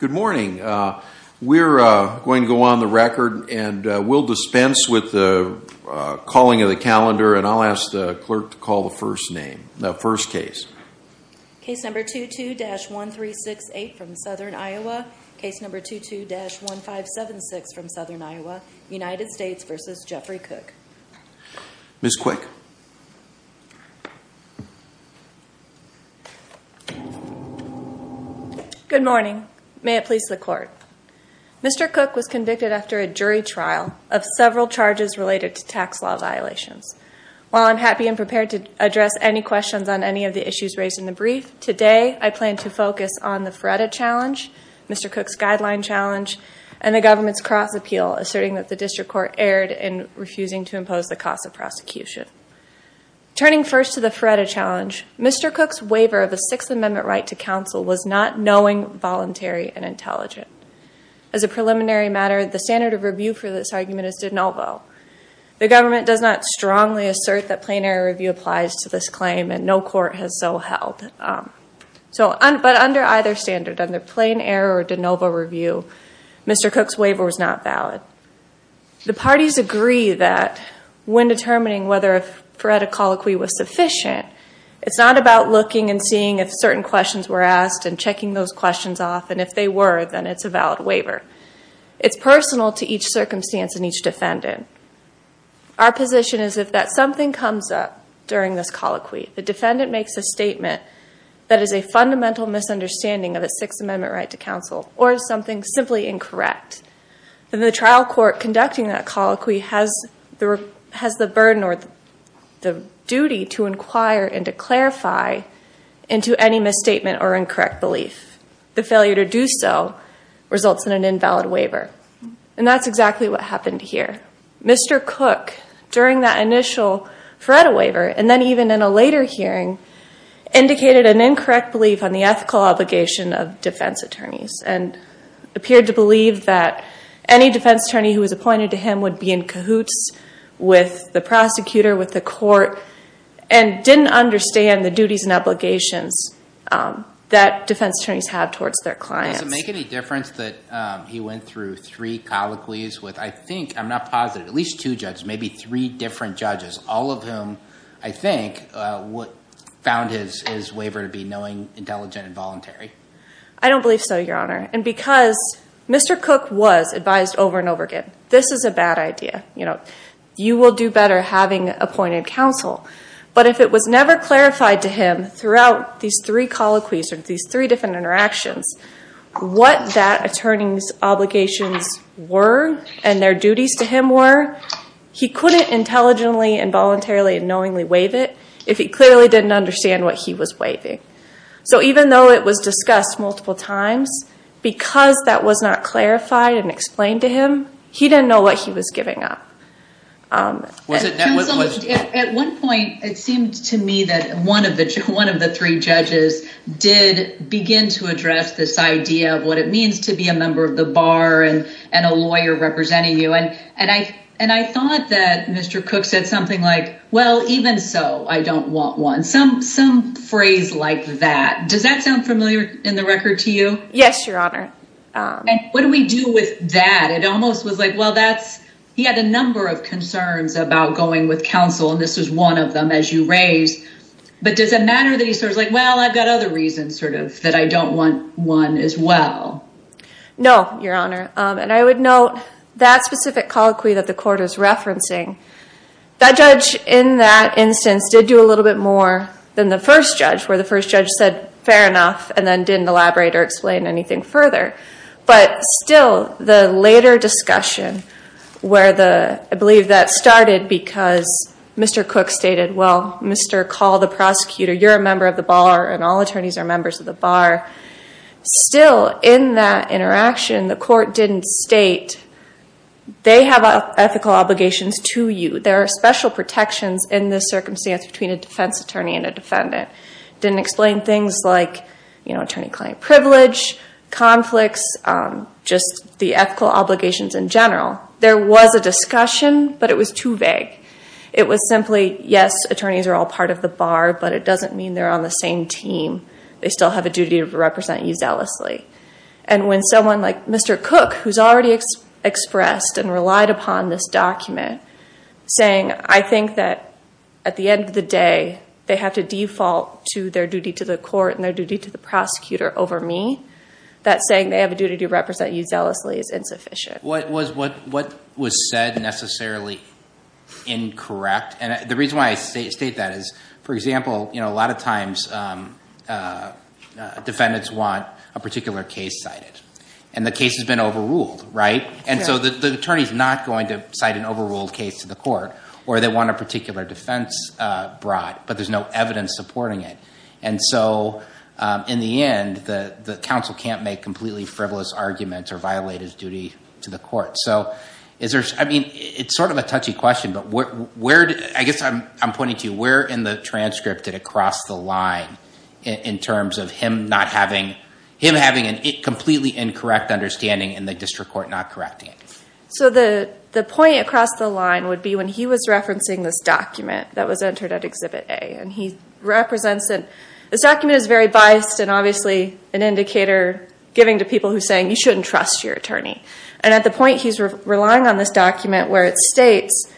Good morning. We're going to go on the record and we'll dispense with the calling of the calendar and I'll ask the clerk to call the first name, the first case. Case number 22-1368 from Southern Iowa. Case number 22-1576 from Southern Iowa. United States v. Jeffrey Kock. Ms. Quick Good morning. May it please the court. Mr. Kock was convicted after a jury trial of several charges related to tax law violations. While I'm happy and prepared to address any questions on any of the issues raised in the brief, today I plan to focus on the FREDA challenge, Mr. Kock's guideline challenge, and the government's cross appeal asserting that the district court erred in refusing to impose the cost of prosecution. Turning first to the FREDA challenge, Mr. Kock's waiver of a Sixth Amendment right to counsel was not knowing, voluntary, and intelligent. As a preliminary matter, the standard of review for this argument is de novo. The government does not strongly assert that plain error review applies to this claim and no court has so held. But under either standard, under either standard, Mr. Kock's waiver was not valid. The parties agree that when determining whether a FREDA colloquy was sufficient, it's not about looking and seeing if certain questions were asked and checking those questions off, and if they were, then it's a valid waiver. It's personal to each circumstance and each defendant. Our position is that if something comes up during this colloquy, the defendant makes a statement that is a fundamental misunderstanding of a Sixth Amendment right to counsel, or something simply incorrect, then the trial court conducting that colloquy has the burden or the duty to inquire and to clarify into any misstatement or incorrect belief. The failure to do so results in an invalid waiver. And that's exactly what happened here. Mr. Kock, during that initial FREDA waiver, and then even in a later hearing, indicated an incorrect belief on the ethical obligation of defense attorneys and appeared to believe that any defense attorney who was appointed to him would be in cahoots with the prosecutor, with the court, and didn't understand the duties and obligations that defense attorneys have towards their clients. Does it make any difference that he went through three colloquies with, I think, I'm not positive, at least two judges, maybe three different judges, all of whom, I think, found his waiver to be knowing, intelligent, and voluntary? I don't believe so, Your Honor. And because Mr. Kock was advised over and over again, this is a bad idea. You will do better having appointed counsel. But if it was never clarified to him throughout these three colloquies, or these three different interactions, what that attorney's obligations were and their duties to him were, he couldn't intelligently and voluntarily and knowingly waive it if he clearly didn't understand what he was waiving. So even though it was discussed multiple times, because that was not clarified and explained to him, he didn't know what he was giving up. Counsel, at one point, it seemed to me that one of the three judges did begin to address this idea of what it means to be a member of the bar and a lawyer representing you. And I thought that Mr. Kock said something like, well, even so, I don't want one. Some phrase like that. Does that sound familiar in the record to you? Yes, Your Honor. And what do we do with that? It almost was like, well, he had a number of concerns about going with counsel, and this was one of them, as you raised. But does it matter that he was like, well, I've got other reasons that I don't want one as well? No, Your Honor. And I would note that specific colloquy that the court is referencing, that judge in that instance did do a little bit more than the first judge, where the first judge said, fair enough, and then didn't elaborate or explain anything further. But still, the later discussion where the, I believe that started because Mr. Cook stated, well, Mr. Call, the prosecutor, you're a member of the bar, and all attorneys are members of the bar. Still, in that interaction, the court didn't state, they have ethical obligations to you. There are special protections in this circumstance between a defense attorney and a defendant. Didn't explain things like attorney-client privilege, conflicts, just the ethical obligations in general. There was a discussion, but it was too vague. It was simply, yes, attorneys are all part of the bar, but it doesn't mean they're on the same team. They still have a duty to represent you zealously. And when someone like Mr. Cook, who's already expressed and relied upon this document, saying, I think that at the end of the day, they have to default to their duty to the court and their duty to the prosecutor over me, that saying they have a duty to represent you zealously is insufficient. What was said necessarily incorrect? And the reason why I state that is, for example, a lot of times defendants want a particular case cited. And the case has been overruled, right? And so the attorney's not going to cite an overruled case to the court, or they want a particular defense brought, but there's no evidence supporting it. And so in the end, the counsel can't make completely frivolous arguments or violate his duty to the court. So it's sort of a touchy question, but I guess I'm pointing to where in the transcript did it cross the line in terms of him having a completely incorrect understanding and the district court not correcting it? So the point across the line would be when he was referencing this document that was an indicator giving to people who are saying, you shouldn't trust your attorney. And at the point he's relying on this document where it states,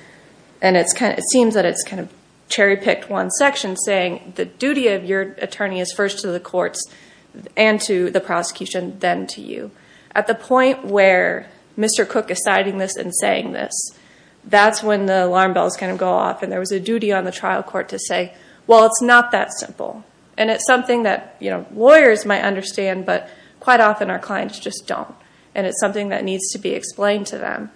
and it seems that it's kind of cherry picked one section, saying the duty of your attorney is first to the courts and to the prosecution, then to you. At the point where Mr. Cook is citing this and saying this, that's when the alarm bells kind of go off. And there was a duty on the trial court to say, well, it's not that simple. And it's something that lawyers might understand, but quite often our clients just don't. And it's something that needs to be explained to them.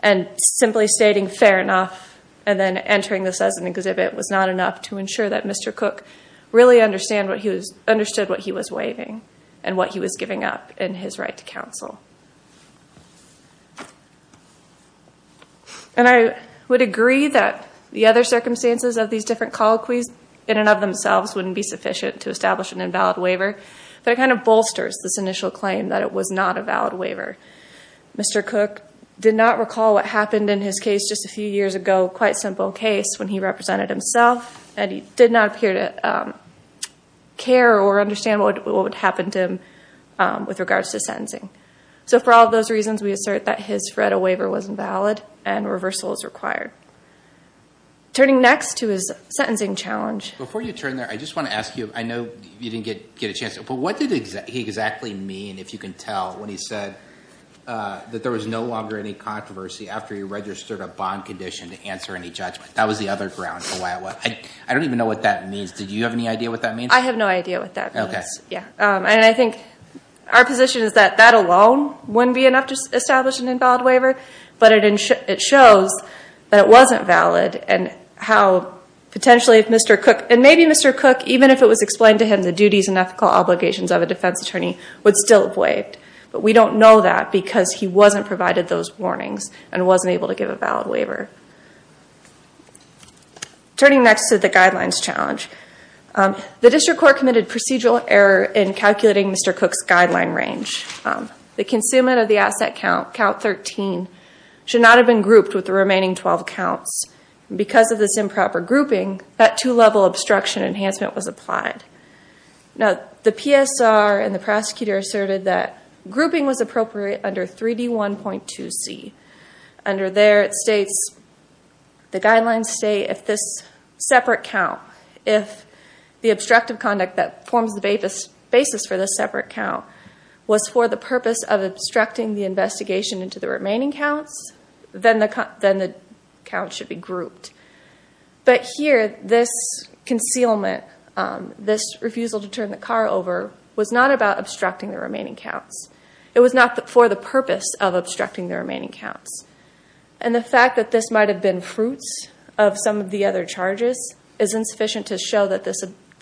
And simply stating fair enough and then entering this as an exhibit was not enough to ensure that Mr. Cook really understood what he was waiving and what he was giving up in his right to counsel. And I would agree that the other circumstances of these different colloquies in and of themselves wouldn't be sufficient to establish an invalid waiver, but it kind of bolsters this initial claim that it was not a valid waiver. Mr. Cook did not recall what happened in his case just a few years ago, quite simple case when he represented himself and he did not appear to care or understand what would happen to him with regards to sentencing. So for all of those reasons, we assert that his federal waiver was invalid and reversal is required. Turning next to his sentencing challenge. Before you turn there, I just want to ask you, I know you didn't get a chance, but what did he exactly mean, if you can tell, when he said that there was no longer any controversy after he registered a bond condition to answer any judgment? That was the other ground for you. Do you have any idea what that means? I have no idea what that means. And I think our position is that that alone wouldn't be enough to establish an invalid waiver, but it shows that it wasn't valid and how potentially if Mr. Cook, and maybe Mr. Cook, even if it was explained to him the duties and ethical obligations of a defense attorney, would still have waived. But we don't know that because he wasn't provided those warnings and wasn't able to give a valid waiver. Turning next to the guidelines challenge. The district court committed procedural error in calculating Mr. Cook's guideline range. The consummate of the asset count, count 13, should not have been grouped with the remaining 12 counts. Because of this improper grouping, that two-level obstruction enhancement was applied. Now, the PSR and the prosecutor asserted that grouping was appropriate under 3D1.2C. Under there it states, the guidelines say if this separate count, if the obstructive conduct that forms the basis for this separate count was for the purpose of obstructing the investigation into the remaining counts, then the count should be grouped. But here, this concealment, this refusal to turn the car into the remaining counts, it was not for the purpose of obstructing the remaining counts. And the fact that this might have been fruits of some of the other charges is insufficient to show that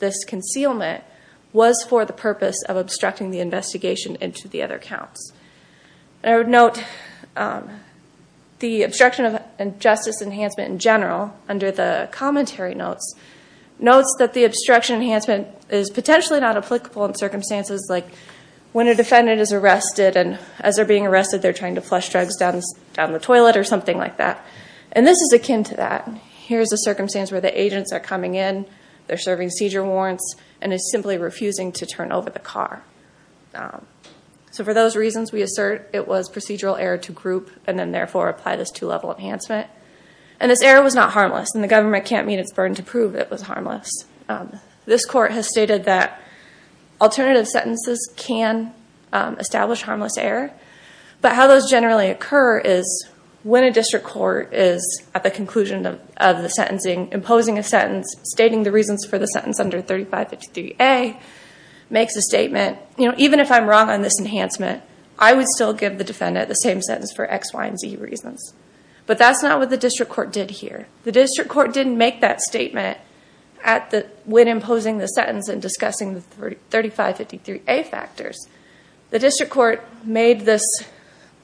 this concealment was for the purpose of obstructing the investigation into the other counts. And I would note, the obstruction of justice enhancement in general, under the commentary notes, notes that the obstruction enhancement is potentially not applicable in circumstances like when a defendant is arrested and as they're being arrested they're trying to flush drugs down the toilet or something like that. And this is akin to that. Here's a circumstance where the agents are coming in, they're serving seizure warrants, and is simply refusing to turn over the car. So for those reasons, we assert it was procedural error to group and then therefore apply this two-level enhancement. And this error was not harmless, and the government can't meet its burden to prove it was harmless. This court has stated that alternative sentences can establish harmless error, but how those generally occur is when a district court is at the conclusion of the sentencing, imposing a sentence, stating the reasons for the sentence under 3553A, makes a statement, you know, even if I'm wrong on this enhancement, I would still give the defendant the same sentence for X, Y, and Z reasons. But that's not what the district court did here. The district court didn't make that statement when imposing the sentence and discussing the 3553A factors. The district court made this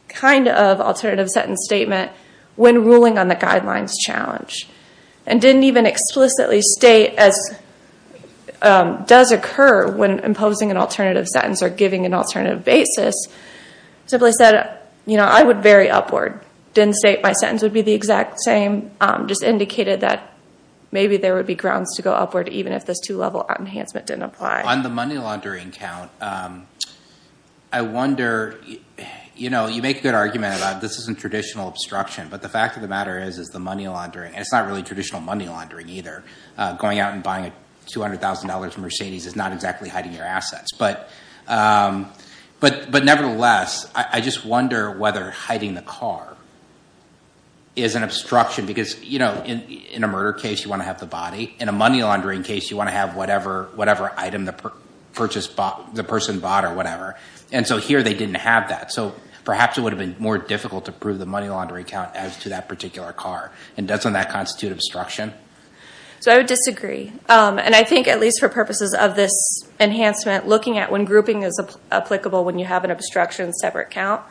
kind of alternative sentence statement when ruling on the guidelines challenge and didn't even explicitly state, as does occur when imposing an alternative sentence or giving an alternative basis, simply said, you know, I would vary upward. Didn't state my sentence would be the exact same, just indicated that maybe there would be grounds to go upward even if this two-level enhancement didn't apply. On the money laundering count, I wonder, you know, you make a good argument about this isn't traditional obstruction, but the fact of the matter is, is the money laundering, and it's not really traditional money laundering either. Going out and buying a $200,000 Mercedes is not exactly hiding your assets. But nevertheless, I just wonder whether hiding the car, whether is an obstruction because, you know, in a murder case you want to have the body. In a money laundering case you want to have whatever item the person bought or whatever. And so here they didn't have that. So perhaps it would have been more difficult to prove the money laundering count as to that particular car. And doesn't that constitute obstruction? So I would disagree. And I think at least for purposes of this enhancement, looking at when grouping is applicable when you have an obstruction separate count,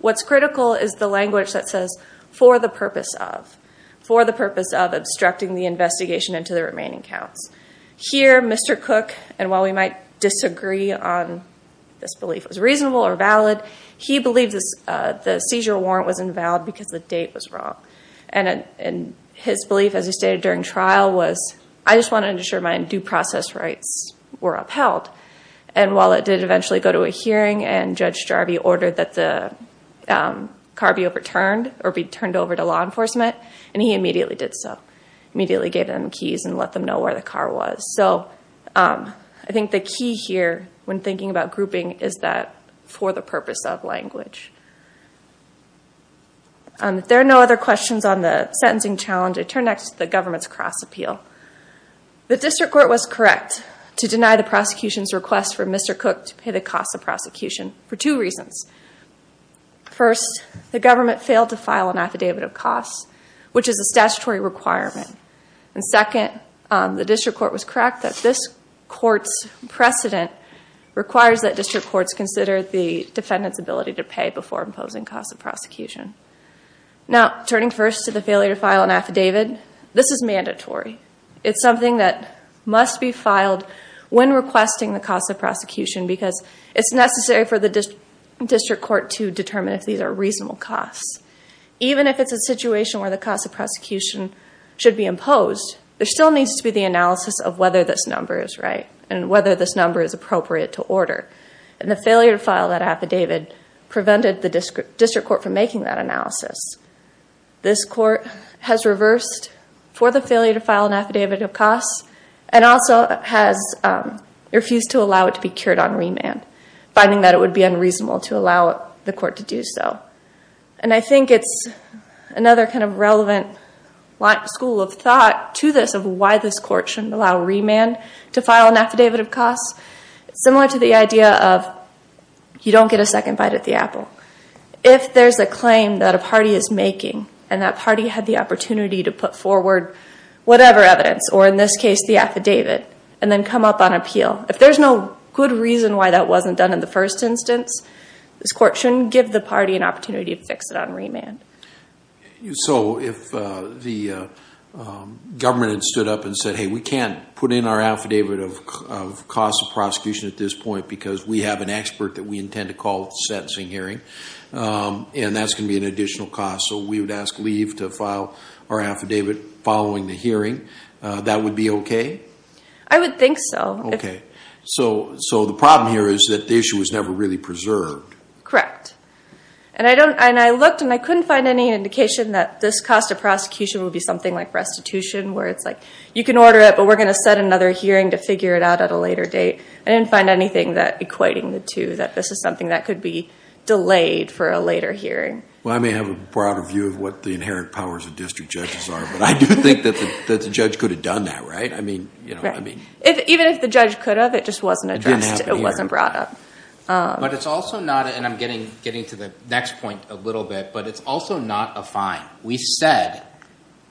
what's critical is the language that says, for the purpose of. For the purpose of obstructing the investigation into the remaining counts. Here, Mr. Cook, and while we might disagree on this belief was reasonable or valid, he believes the seizure warrant was invalid because the date was wrong. And his belief as he stated during trial was, I just want to ensure my due process rights were upheld. And while it did eventually go to a hearing and Judge Jarvie ordered that the car be overturned or be turned over to law enforcement, and he immediately did so. Immediately gave them keys and let them know where the car was. So I think the key here when thinking about grouping is that for the purpose of language. If there are no other questions on the sentencing challenge, I turn next to the government's cost appeal. The district court was correct to deny the prosecution's request for Mr. Cook to pay the cost of prosecution for two reasons. First, the government failed to file an affidavit of costs, which is a statutory requirement. And second, the district court was correct that this court's precedent requires that district courts consider the defendant's ability to pay before imposing cost of prosecution. Now, turning first to the failure to file an affidavit, this is mandatory. It's something that must be filed when requesting the cost of prosecution because it's necessary for the district court to determine if these are reasonable costs. Even if it's a situation where the cost of prosecution should be imposed, there still needs to be the analysis of whether this number is right and whether this number is appropriate to order. And the failure to file that affidavit prevented the district court from making that analysis. This court has reversed for the failure to file an affidavit of costs and also has refused to allow it to be cured on remand, finding that it would be unreasonable to allow the court to do so. And I think it's another kind of relevant school of thought to this of why this court shouldn't allow remand to file an affidavit of costs. Similar to the idea of you don't get a second bite at the apple. If there's a claim that a party is making and that party had the opportunity to put forward whatever evidence, or in this case the affidavit, and then come up on appeal, if there's no good reason why that wasn't done in the first instance, this court shouldn't give the party an opportunity to fix it on remand. So if the government had stood up and said, hey, we can't put in our affidavit of costs of prosecution at this point because we have an expert that we intend to call at the sentencing hearing, and that's going to be an additional cost, so we would ask leave to file our affidavit following the hearing, that would be okay? I would think so. Okay. So the problem here is that the issue was never really preserved. Correct. And I looked and I couldn't find any indication that this cost of prosecution would be something like restitution, where it's like, you can order it, but we're going to set another hearing to figure it out at a later date. I didn't find anything that equating the two, that this is something that could be delayed for a later hearing. Well, I may have a broader view of what the inherent powers of district judges are, but I do think that the judge could have done that, right? Even if the judge could have, it just wasn't addressed. It wasn't brought up. But it's also not, and I'm getting to the next point a little bit, but it's also not a fine. We said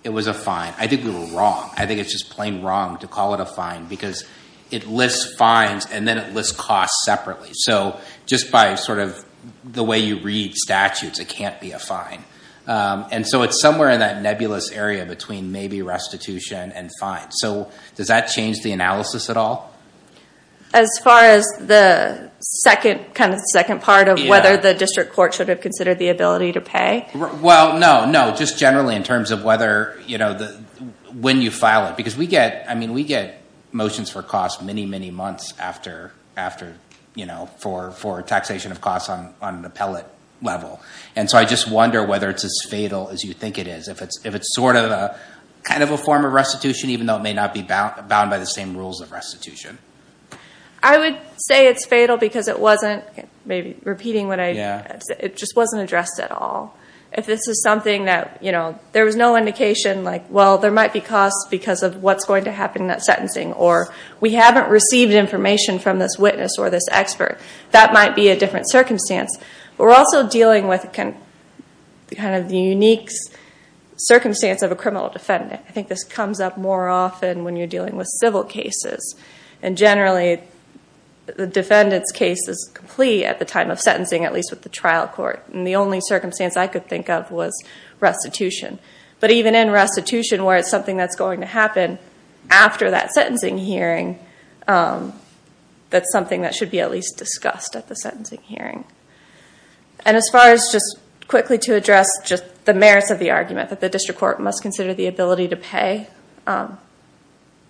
it was a fine. I think we were wrong. I think it's just plain wrong to call it a fine because it lists fines and then it lists costs separately. So just by sort of the way you read statutes, it can't be a fine. And so it's somewhere in that nebulous area between maybe restitution and fines. So does that change the analysis at all? As far as the second part of whether the district court should have considered the ability to pay? Well, no, no. Just generally in terms of when you file it. Because we get motions for costs many, many months after, for taxation of costs on an appellate level. And so I just wonder whether it's as fatal as you think it is. If it's sort of a form of restitution, even though it may not be bound by the same rules of restitution. I would say it's fatal because it wasn't, maybe repeating what I said, it just wasn't addressed at all. If this is something that there was no indication, like, well, there might be costs because of what's going to happen in that sentencing. Or we haven't received information from this witness or this expert. That might be a different circumstance. We're also dealing with kind of the unique circumstance of a criminal defendant. I think this comes up more often when you're dealing with civil cases. And generally, the defendant's case is complete at the time of sentencing, at least with the trial court. And the only circumstance I could think of was restitution. But even in restitution where it's something that's going to happen after that sentencing hearing, that's something that should be at least discussed at the sentencing hearing. And as far as just quickly to address just the merits of the argument,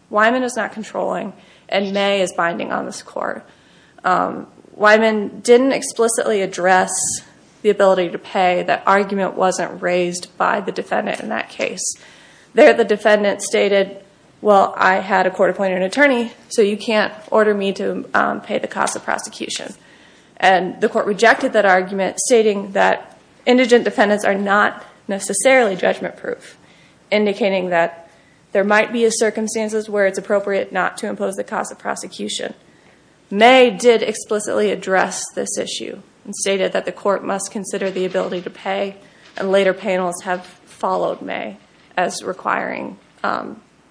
Wyman is not controlling, and May is binding on this court. Wyman didn't explicitly address the ability to pay. That argument wasn't raised by the defendant in that case. There, the defendant stated, well, I had a court appointed an attorney, so you can't order me to pay the cost of prosecution. And the court rejected that argument, stating that indigent defendants are not necessarily judgment-proof, indicating that there might be circumstances where it's appropriate not to impose the cost of prosecution. May did explicitly address this issue and stated that the court must consider the ability to pay. And later panels have followed May as requiring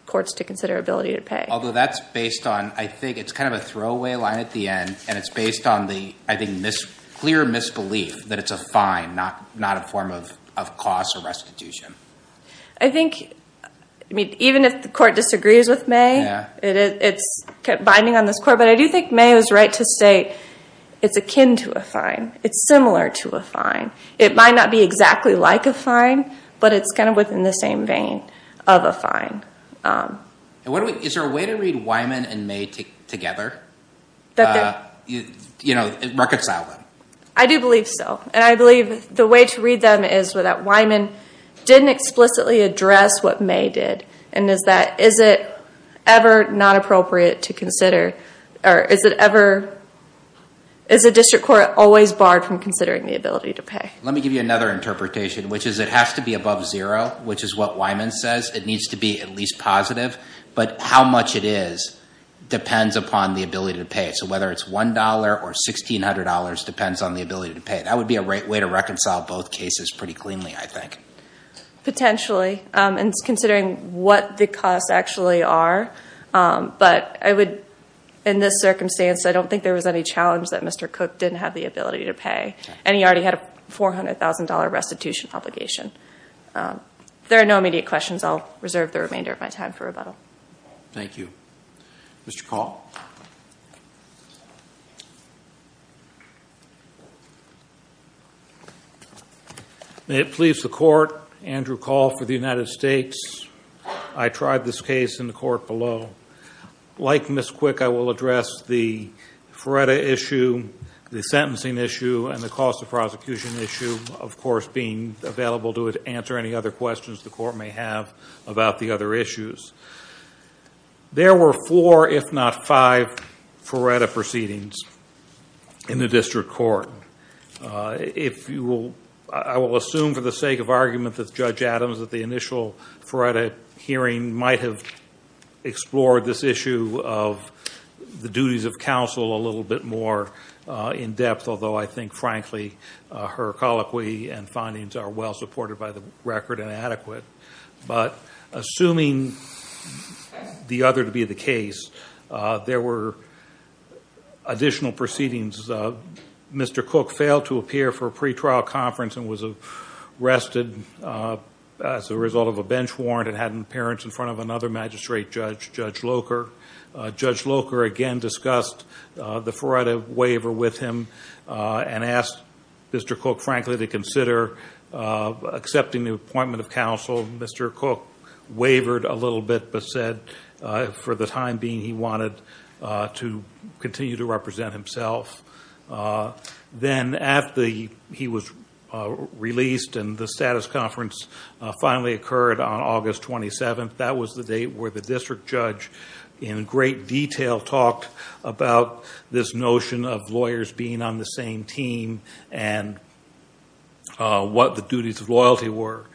courts to consider ability to pay. Although that's based on, I think it's kind of a throwaway line at the end, and it's based on the, I think, clear misbelief that it's a fine, not a form of cost of restitution. I think, I mean, even if the court disagrees with May, it's binding on this court. But I do think May was right to say it's akin to a fine. It's similar to a fine. It might not be exactly like a fine, but it's kind of within the same vein of a fine. Is there a way to and May together, you know, reconcile them? I do believe so. And I believe the way to read them is that Wyman didn't explicitly address what May did. And is that, is it ever not appropriate to consider, or is it ever, is the district court always barred from considering the ability to pay? Let me give you another interpretation, which is it has to be above zero, which is what Wyman says. It needs to be at least positive. But how much it is depends upon the ability to pay. So whether it's $1 or $1,600 depends on the ability to pay. That would be a great way to reconcile both cases pretty cleanly, I think. Potentially, and considering what the costs actually are. But I would, in this circumstance, I don't think there was any challenge that Mr. Cook didn't have the ability to pay. And he already had a $400,000 restitution obligation. There are no immediate questions. I'll reserve the remainder of my time for rebuttal. Thank you. Mr. Call. May it please the court, Andrew Call for the United States. I tried this case in the court below. Like Ms. Quick, I will address the FREDA issue, the sentencing issue, and the cost of prosecution issue, of course, being available to answer any other questions the court may have about the other issues. There were four, if not five, FREDA proceedings in the district court. If you will, I will assume for the sake of argument that Judge Adams at the initial FREDA hearing might have explored this issue of the duties of counsel a little bit more in depth, although I think, frankly, her colloquy and findings are well supported by the record and adequate. But assuming the other to be the case, there were additional proceedings. Mr. Cook failed to appear for a pretrial conference and was arrested as a result of a bench warrant and had an appearance in front of another magistrate judge, Judge Locher. Judge Locher again discussed the FREDA waiver with him and asked Mr. Cook, frankly, to consider accepting the appointment of counsel. Mr. Cook wavered a little bit but said for the time being he wanted to continue to represent himself. Then after he was released and the status conference finally occurred on August 27th, that was the date where the district judge in great detail talked about this notion of lawyers being on the same team and what the duties of loyalty were.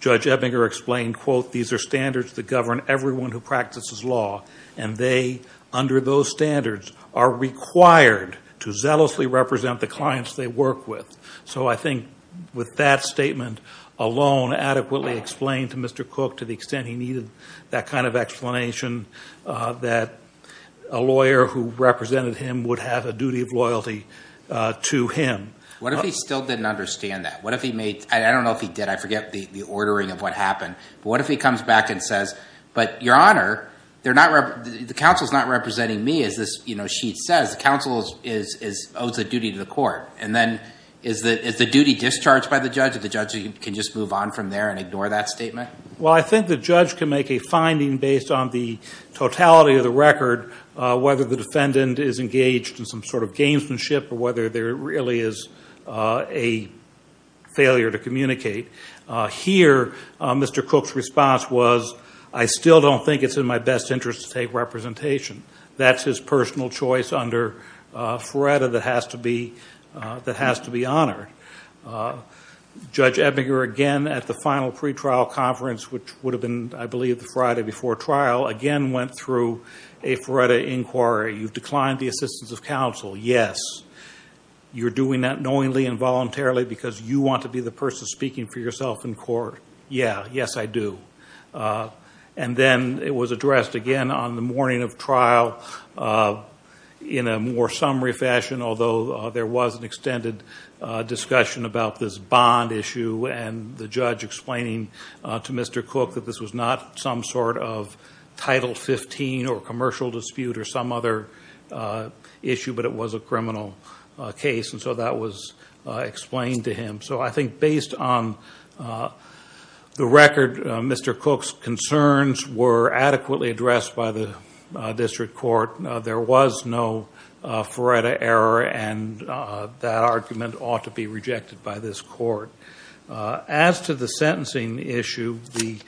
Judge Ebbinger explained, quote, these are standards that govern everyone who practices law and they, under those standards, are required to zealously represent the clients they work with. So I think with that statement alone adequately explained to Mr. Cook to the extent he needed that kind of explanation that a lawyer who represented him would have a duty of loyalty to him. What if he still didn't understand that? What if he made, I don't know if he did, I forget the ordering of what happened, but what if he comes back and says, but your honor, the counsel's not representing me as this sheet says. The counsel owes a duty to the court. And is the duty discharged by the judge or the judge can just move on from there and ignore that statement? Well, I think the judge can make a finding based on the totality of the record, whether the defendant is engaged in some sort of gamesmanship or whether there really is a failure to communicate. Here, Mr. Cook's response was, I still don't think it's in my best interest to take representation. That's his personal choice under FRERTA that has to be honored. Judge Ebinger, again, at the final pretrial conference, which would have been, I believe, the Friday before trial, again went through a FRERTA inquiry. You've declined the assistance of counsel. Yes. You're doing that knowingly and voluntarily because you want to be the on the morning of trial in a more summary fashion, although there was an extended discussion about this bond issue and the judge explaining to Mr. Cook that this was not some sort of Title 15 or commercial dispute or some other issue, but it was a criminal case. And so that was explained to him. So I think based on the record, Mr. Cook's concerns were adequately addressed by the district court. There was no FRERTA error, and that argument ought to be rejected by this court. As to the sentencing issue, the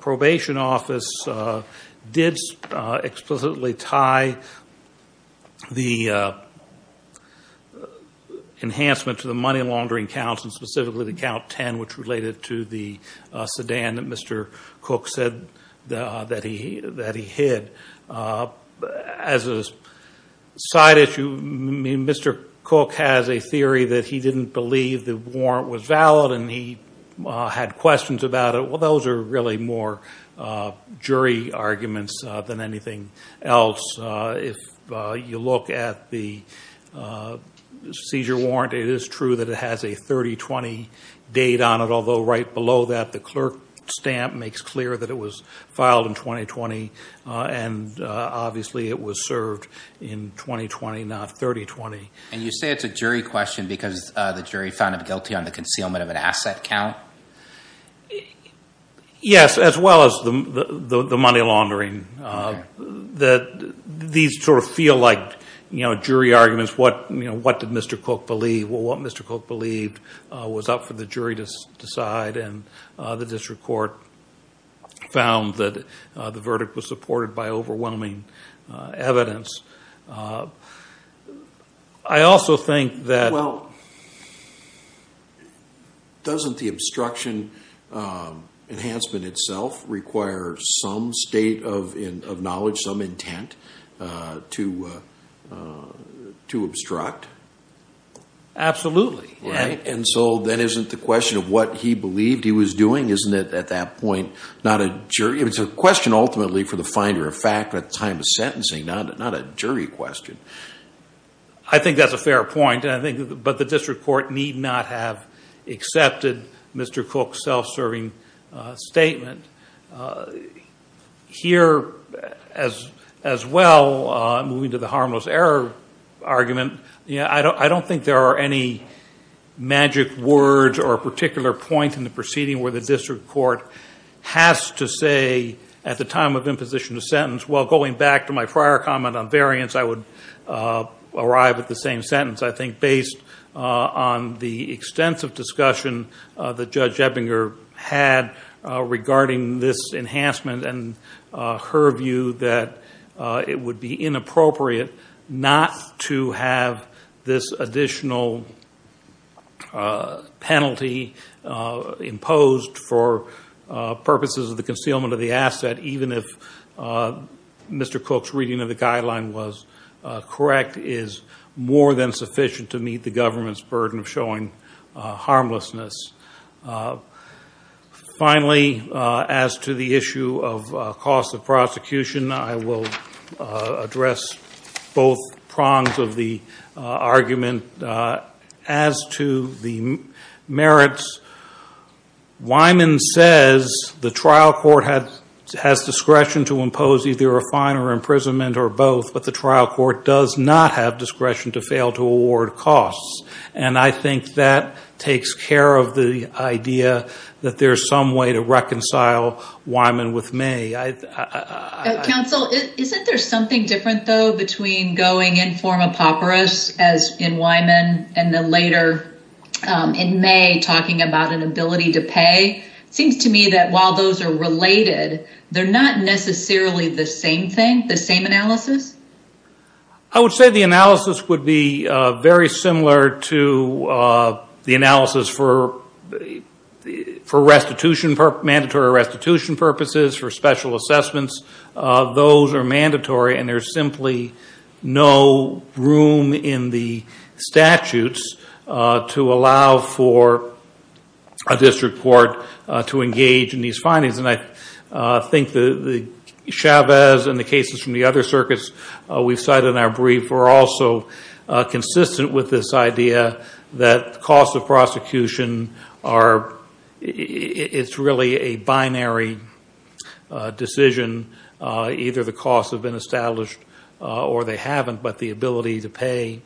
probation office did explicitly tie the enhancement to the money laundering counts and specifically the count 10, which related to the sedan that Mr. Cook said that he hid. As a side issue, Mr. Cook has a theory that he didn't believe the warrant was valid and he had questions about it. Well, those are really more jury arguments than anything else. If you look at the seizure warrant, it is true that it has a 30-20 date on it, although right below that the clerk stamp makes clear that it was filed in 2020 and obviously it was served in 2020, not 30-20. And you say it's a jury question because the jury found him guilty on the concealment of an asset count? Yes, as well as the money laundering. These sort of feel like jury arguments. What did Mr. Cook believe? Well, what Mr. Cook believed was up for the jury to decide, and the district court found that the verdict was supported by overwhelming evidence. I also think that... Well, doesn't the obstruction enhancement itself require some state of knowledge, some intent to obstruct? Absolutely, right. And so then isn't the question of what he believed he was doing, isn't it at that point, not a jury? It's a question ultimately for the finder of fact at the time of sentencing, not a jury question. I think that's a fair point, but the district court need not have accepted Mr. Cook's self-serving statement. Here as well, moving to the harmless error argument, I don't think there are any magic words or a particular point in the proceeding where the district court has to say at the time of imposition of sentence, well, going back to my prior comment on variance, I would arrive at the same sentence. I think based on the extensive discussion that Judge Ebinger had regarding this enhancement and her view that it would be inappropriate not to have this additional penalty imposed for purposes of the concealment of the asset, even if Mr. Cook's reading of the guideline was correct, is more than sufficient to meet the harmlessness. Finally, as to the issue of cost of prosecution, I will address both prongs of the argument. As to the merits, Wyman says the trial court has discretion to impose either a fine or imprisonment or both, but the trial court does not have discretion to fail to award costs. I think that takes care of the idea that there's some way to reconcile Wyman with May. Counsel, isn't there something different, though, between going in form of papyrus as in Wyman and then later in May talking about an ability to pay? It seems to me that while those are related, they're not necessarily the same thing, the same analysis. I would say the analysis would be very similar to the analysis for mandatory restitution purposes, for special assessments. Those are mandatory and there's simply no room in the statutes to allow for a district court to engage in these findings. I think the Chavez and the cases from the other circuits we've cited in our brief are also consistent with this idea that the cost of prosecution is really a binary decision. Either the costs have been established or they haven't, but the ability to pay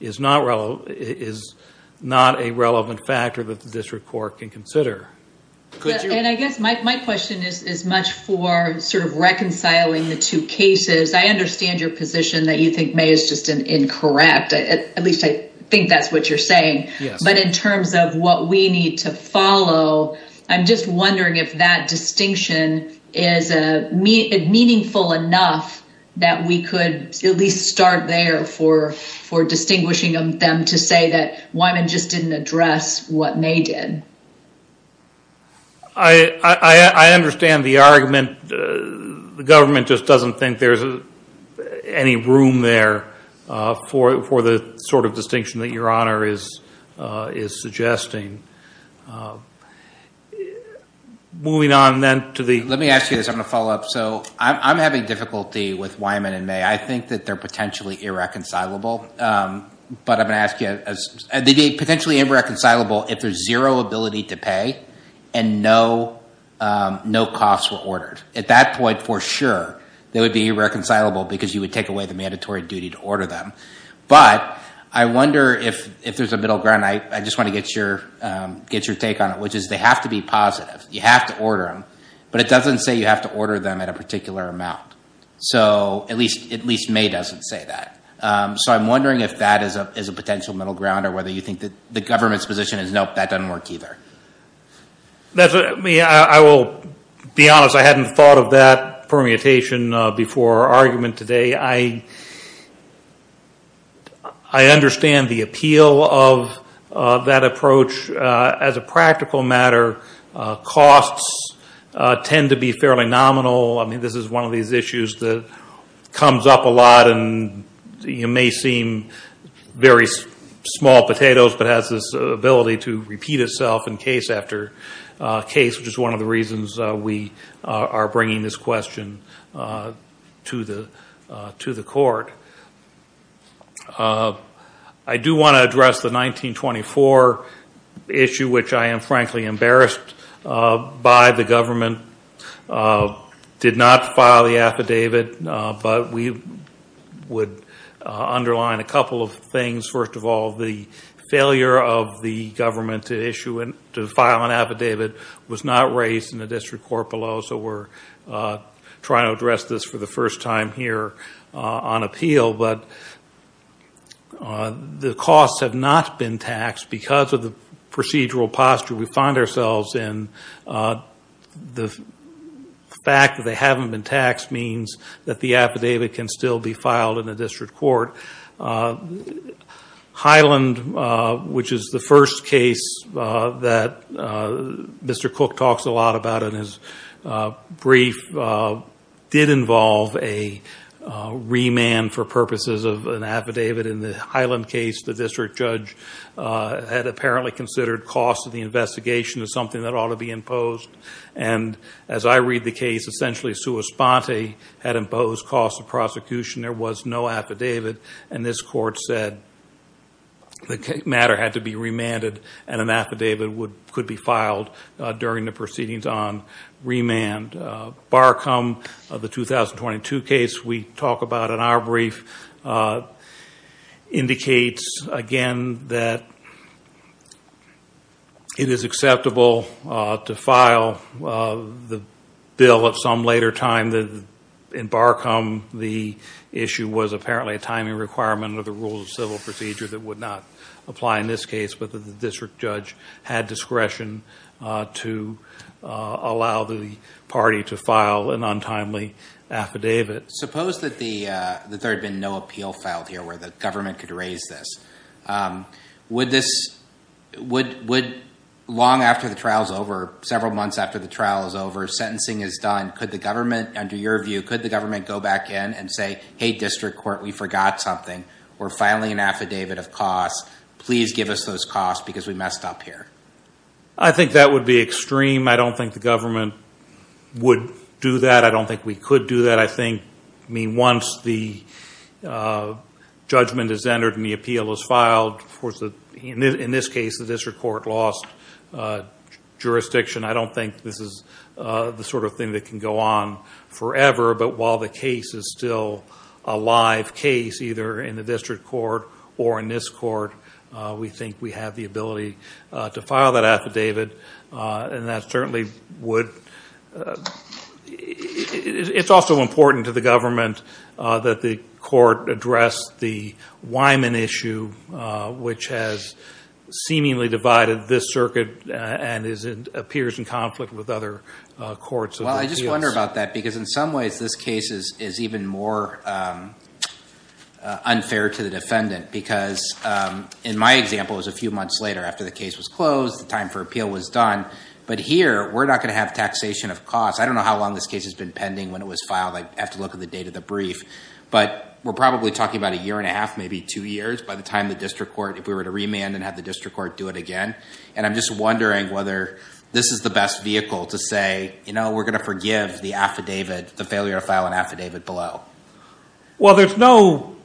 is not a relevant factor that the district court can consider. And I guess my question is much for sort of reconciling the two cases. I understand your position that you think May is just incorrect. At least I think that's what you're saying. But in terms of what we need to follow, I'm just wondering if that distinction is meaningful enough that we could at least start there for distinguishing them to say that Wyman just didn't address what May did. I understand the argument. The government just doesn't think there's any room there for the sort of distinction that your honor is suggesting. Moving on then to the... Let me ask you this. I'm going to follow up. So I'm having difficulty with Wyman and May. I think that they're potentially irreconcilable. But I'm going to ask you... They'd be potentially irreconcilable if there's zero ability to pay and no costs were ordered. At that point, for sure, they would be irreconcilable because you would take away the mandatory duty to order them. But I wonder if there's a middle ground. I just want to get your take on it, which is they have to be positive. You have to order them. But it doesn't say you have to order them at a particular amount. At least May doesn't say that. So I'm wondering if that is a potential middle ground or whether you think that the government's position is, nope, that doesn't work either. I will be honest. I hadn't thought of that permutation before our argument today. I understand the appeal of that approach. As a practical matter, costs tend to be fairly nominal. This is one of these issues that comes up a lot and may seem very small potatoes, but has this ability to repeat itself in case after case, which is one of the reasons we are bringing this question to the court. I do want to address the 1924 issue, which I am, frankly, embarrassed by. The government did not file the affidavit, but we would underline a couple of things. First of all, the failure of the government to file an affidavit was not raised in the district court below. So we're trying to address this for the procedural posture we find ourselves in. The fact that they haven't been taxed means that the affidavit can still be filed in the district court. Highland, which is the first case that Mr. Cook talks a lot about in his brief, did involve a remand for purposes of an affidavit. In the Highland case, the district judge had apparently considered cost of the investigation as something that ought to be imposed. As I read the case, essentially, sua sponte, had imposed cost of prosecution. There was no affidavit, and this court said the matter had to be remanded and an affidavit could be filed during the proceedings on remand. Barcom, the 2022 case we talk about in our brief, indicates again that it is acceptable to file the bill at some later time. In Barcom, the issue was apparently a timing requirement under the rules of civil procedure that would not apply in this case, but the district judge had discretion to allow the party to file an untimely affidavit. Suppose that there had been no appeal filed here where the government could raise this. Several months after the trial is over, sentencing is done. Under your view, could the government go back in and say, hey, district court, we forgot something. We're filing an affidavit of cost. Please give us those costs because we messed up here. I think that would be extreme. I don't think the government would do that. I don't think we could do that. I think once the judgment is entered and the appeal is filed, in this case, the district court lost jurisdiction. I don't think this is the sort of thing that can go on forever, but while the case is still a live case, either in the district court or in this court, we think we have the ability to file that affidavit. It's also important to the government that the court address the Wyman issue, which has seemingly divided this circuit and appears in this case is even more unfair to the defendant. Because in my example, it was a few months later after the case was closed, the time for appeal was done. But here, we're not going to have taxation of cost. I don't know how long this case has been pending when it was filed. I'd have to look at the date of the brief. But we're probably talking about a year and a half, maybe two years by the time the district court, if we were to remand and have the district court do it again. And I'm just wondering whether this is the best vehicle to say, we're going to forgive the failure to file an affidavit below. Well, there's no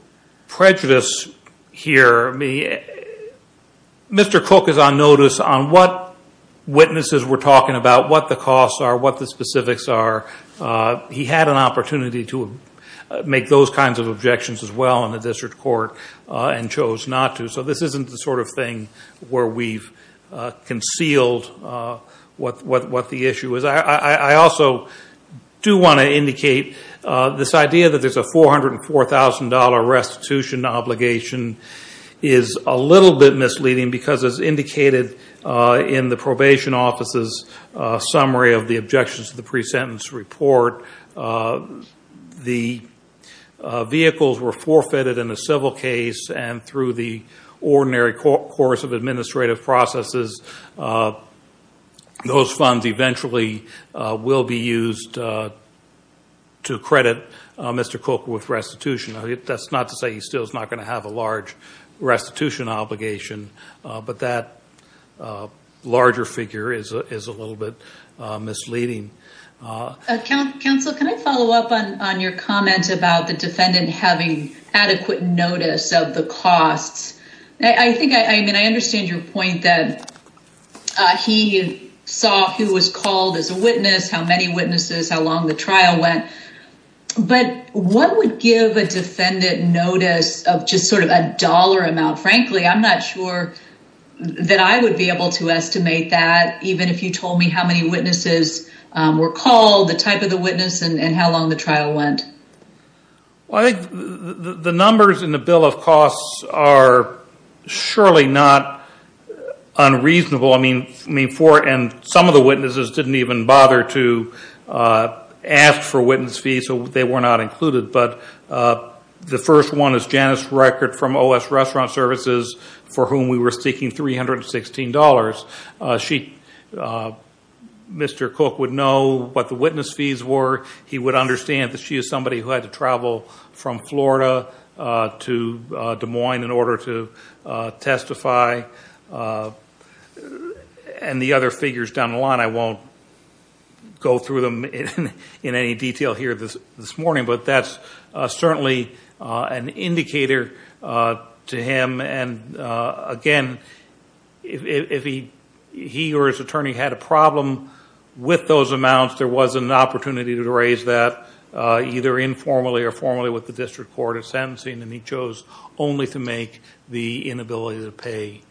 prejudice here. Mr. Cook is on notice on what witnesses were talking about, what the costs are, what the specifics are. He had an opportunity to make those kinds of objections as well in the district court and chose not to. This isn't the sort of thing where we've concealed what the issue is. I also do want to indicate this idea that there's a $404,000 restitution obligation is a little bit misleading because as indicated in the probation office's summary of the objections to the pre-sentence report, the vehicles were forfeited in a civil case and through the ordinary course of administrative processes, those funds eventually will be used to credit Mr. Cook with restitution. That's not to say he still is not going to have a large restitution obligation, but that larger figure is a little bit misleading. Counsel, can I follow up on your comment about the defendant having adequate notice of the costs? I mean, I understand your point that he saw who was called as a witness, how many witnesses, how long the trial went, but what would give a defendant notice of just sort of a dollar amount? Frankly, I'm not sure that I would be able to estimate that, even if you told me how many witnesses were called, the type of the witness, and how long the trial went. Well, I think the numbers in the bill of costs are surely not unreasonable. I mean, some of the witnesses didn't even bother to ask for witness fees, so they were not included, but the first one is Janice Reckert from OS Restaurant Services, for whom we were seeking $316. Mr. Cook would know what the witness fees were. He would understand that she is somebody who had to travel from Florida to Des Moines in order to testify, and the other figures down the line, I won't go through them in any detail here this morning, but that's certainly an indicator to him, and again, if he or his attorney had a problem with those amounts, there was an opportunity to raise that either informally or formally with the district court of sentencing, and he chose only to make the inability to pay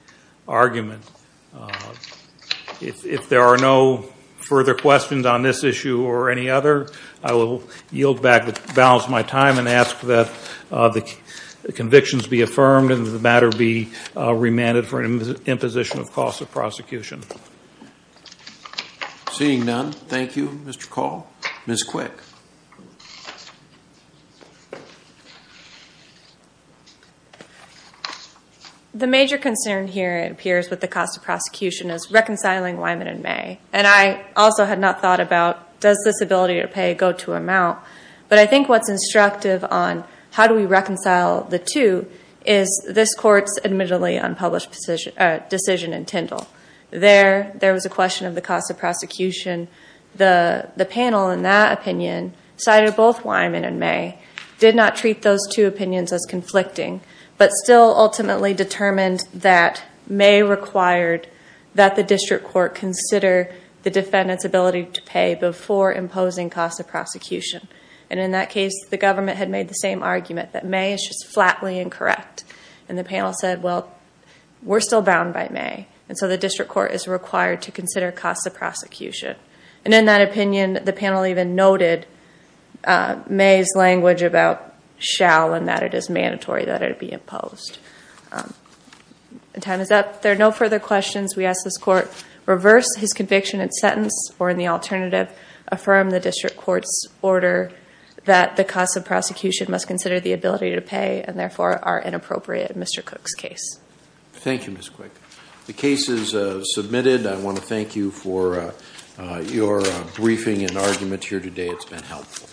argument. If there are no further questions on this issue or any other, I will yield back the balance of my time and ask that the convictions be affirmed and that the matter be remanded for an imposition of cost of prosecution. Seeing none, thank you, Mr. Call. Ms. Quick. The major concern here, it appears, with the cost of prosecution is reconciling Wyman and May, and I also had not thought about, does this ability to pay go to amount, but I think what's instructive on how do we reconcile the two is this court's admittedly unpublished decision in Tindall. There was a question of the cost of prosecution. The panel, in that opinion, cited both Wyman and but still ultimately determined that May required that the district court consider the defendant's ability to pay before imposing cost of prosecution, and in that case, the government had made the same argument that May is just flatly incorrect, and the panel said, well, we're still bound by May, and so the district court is required to consider cost of prosecution, and in that opinion, the panel even noted May's language about shall and that it is mandatory that it be imposed. Time is up. There are no further questions. We ask this court reverse his conviction and sentence, or in the alternative, affirm the district court's order that the cost of prosecution must consider the ability to pay and therefore are inappropriate in Mr. Cook's case. Thank you, Ms. Quick. The case is submitted. I want to thank you for your briefing and argument here today. It's been helpful.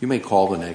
You may call the next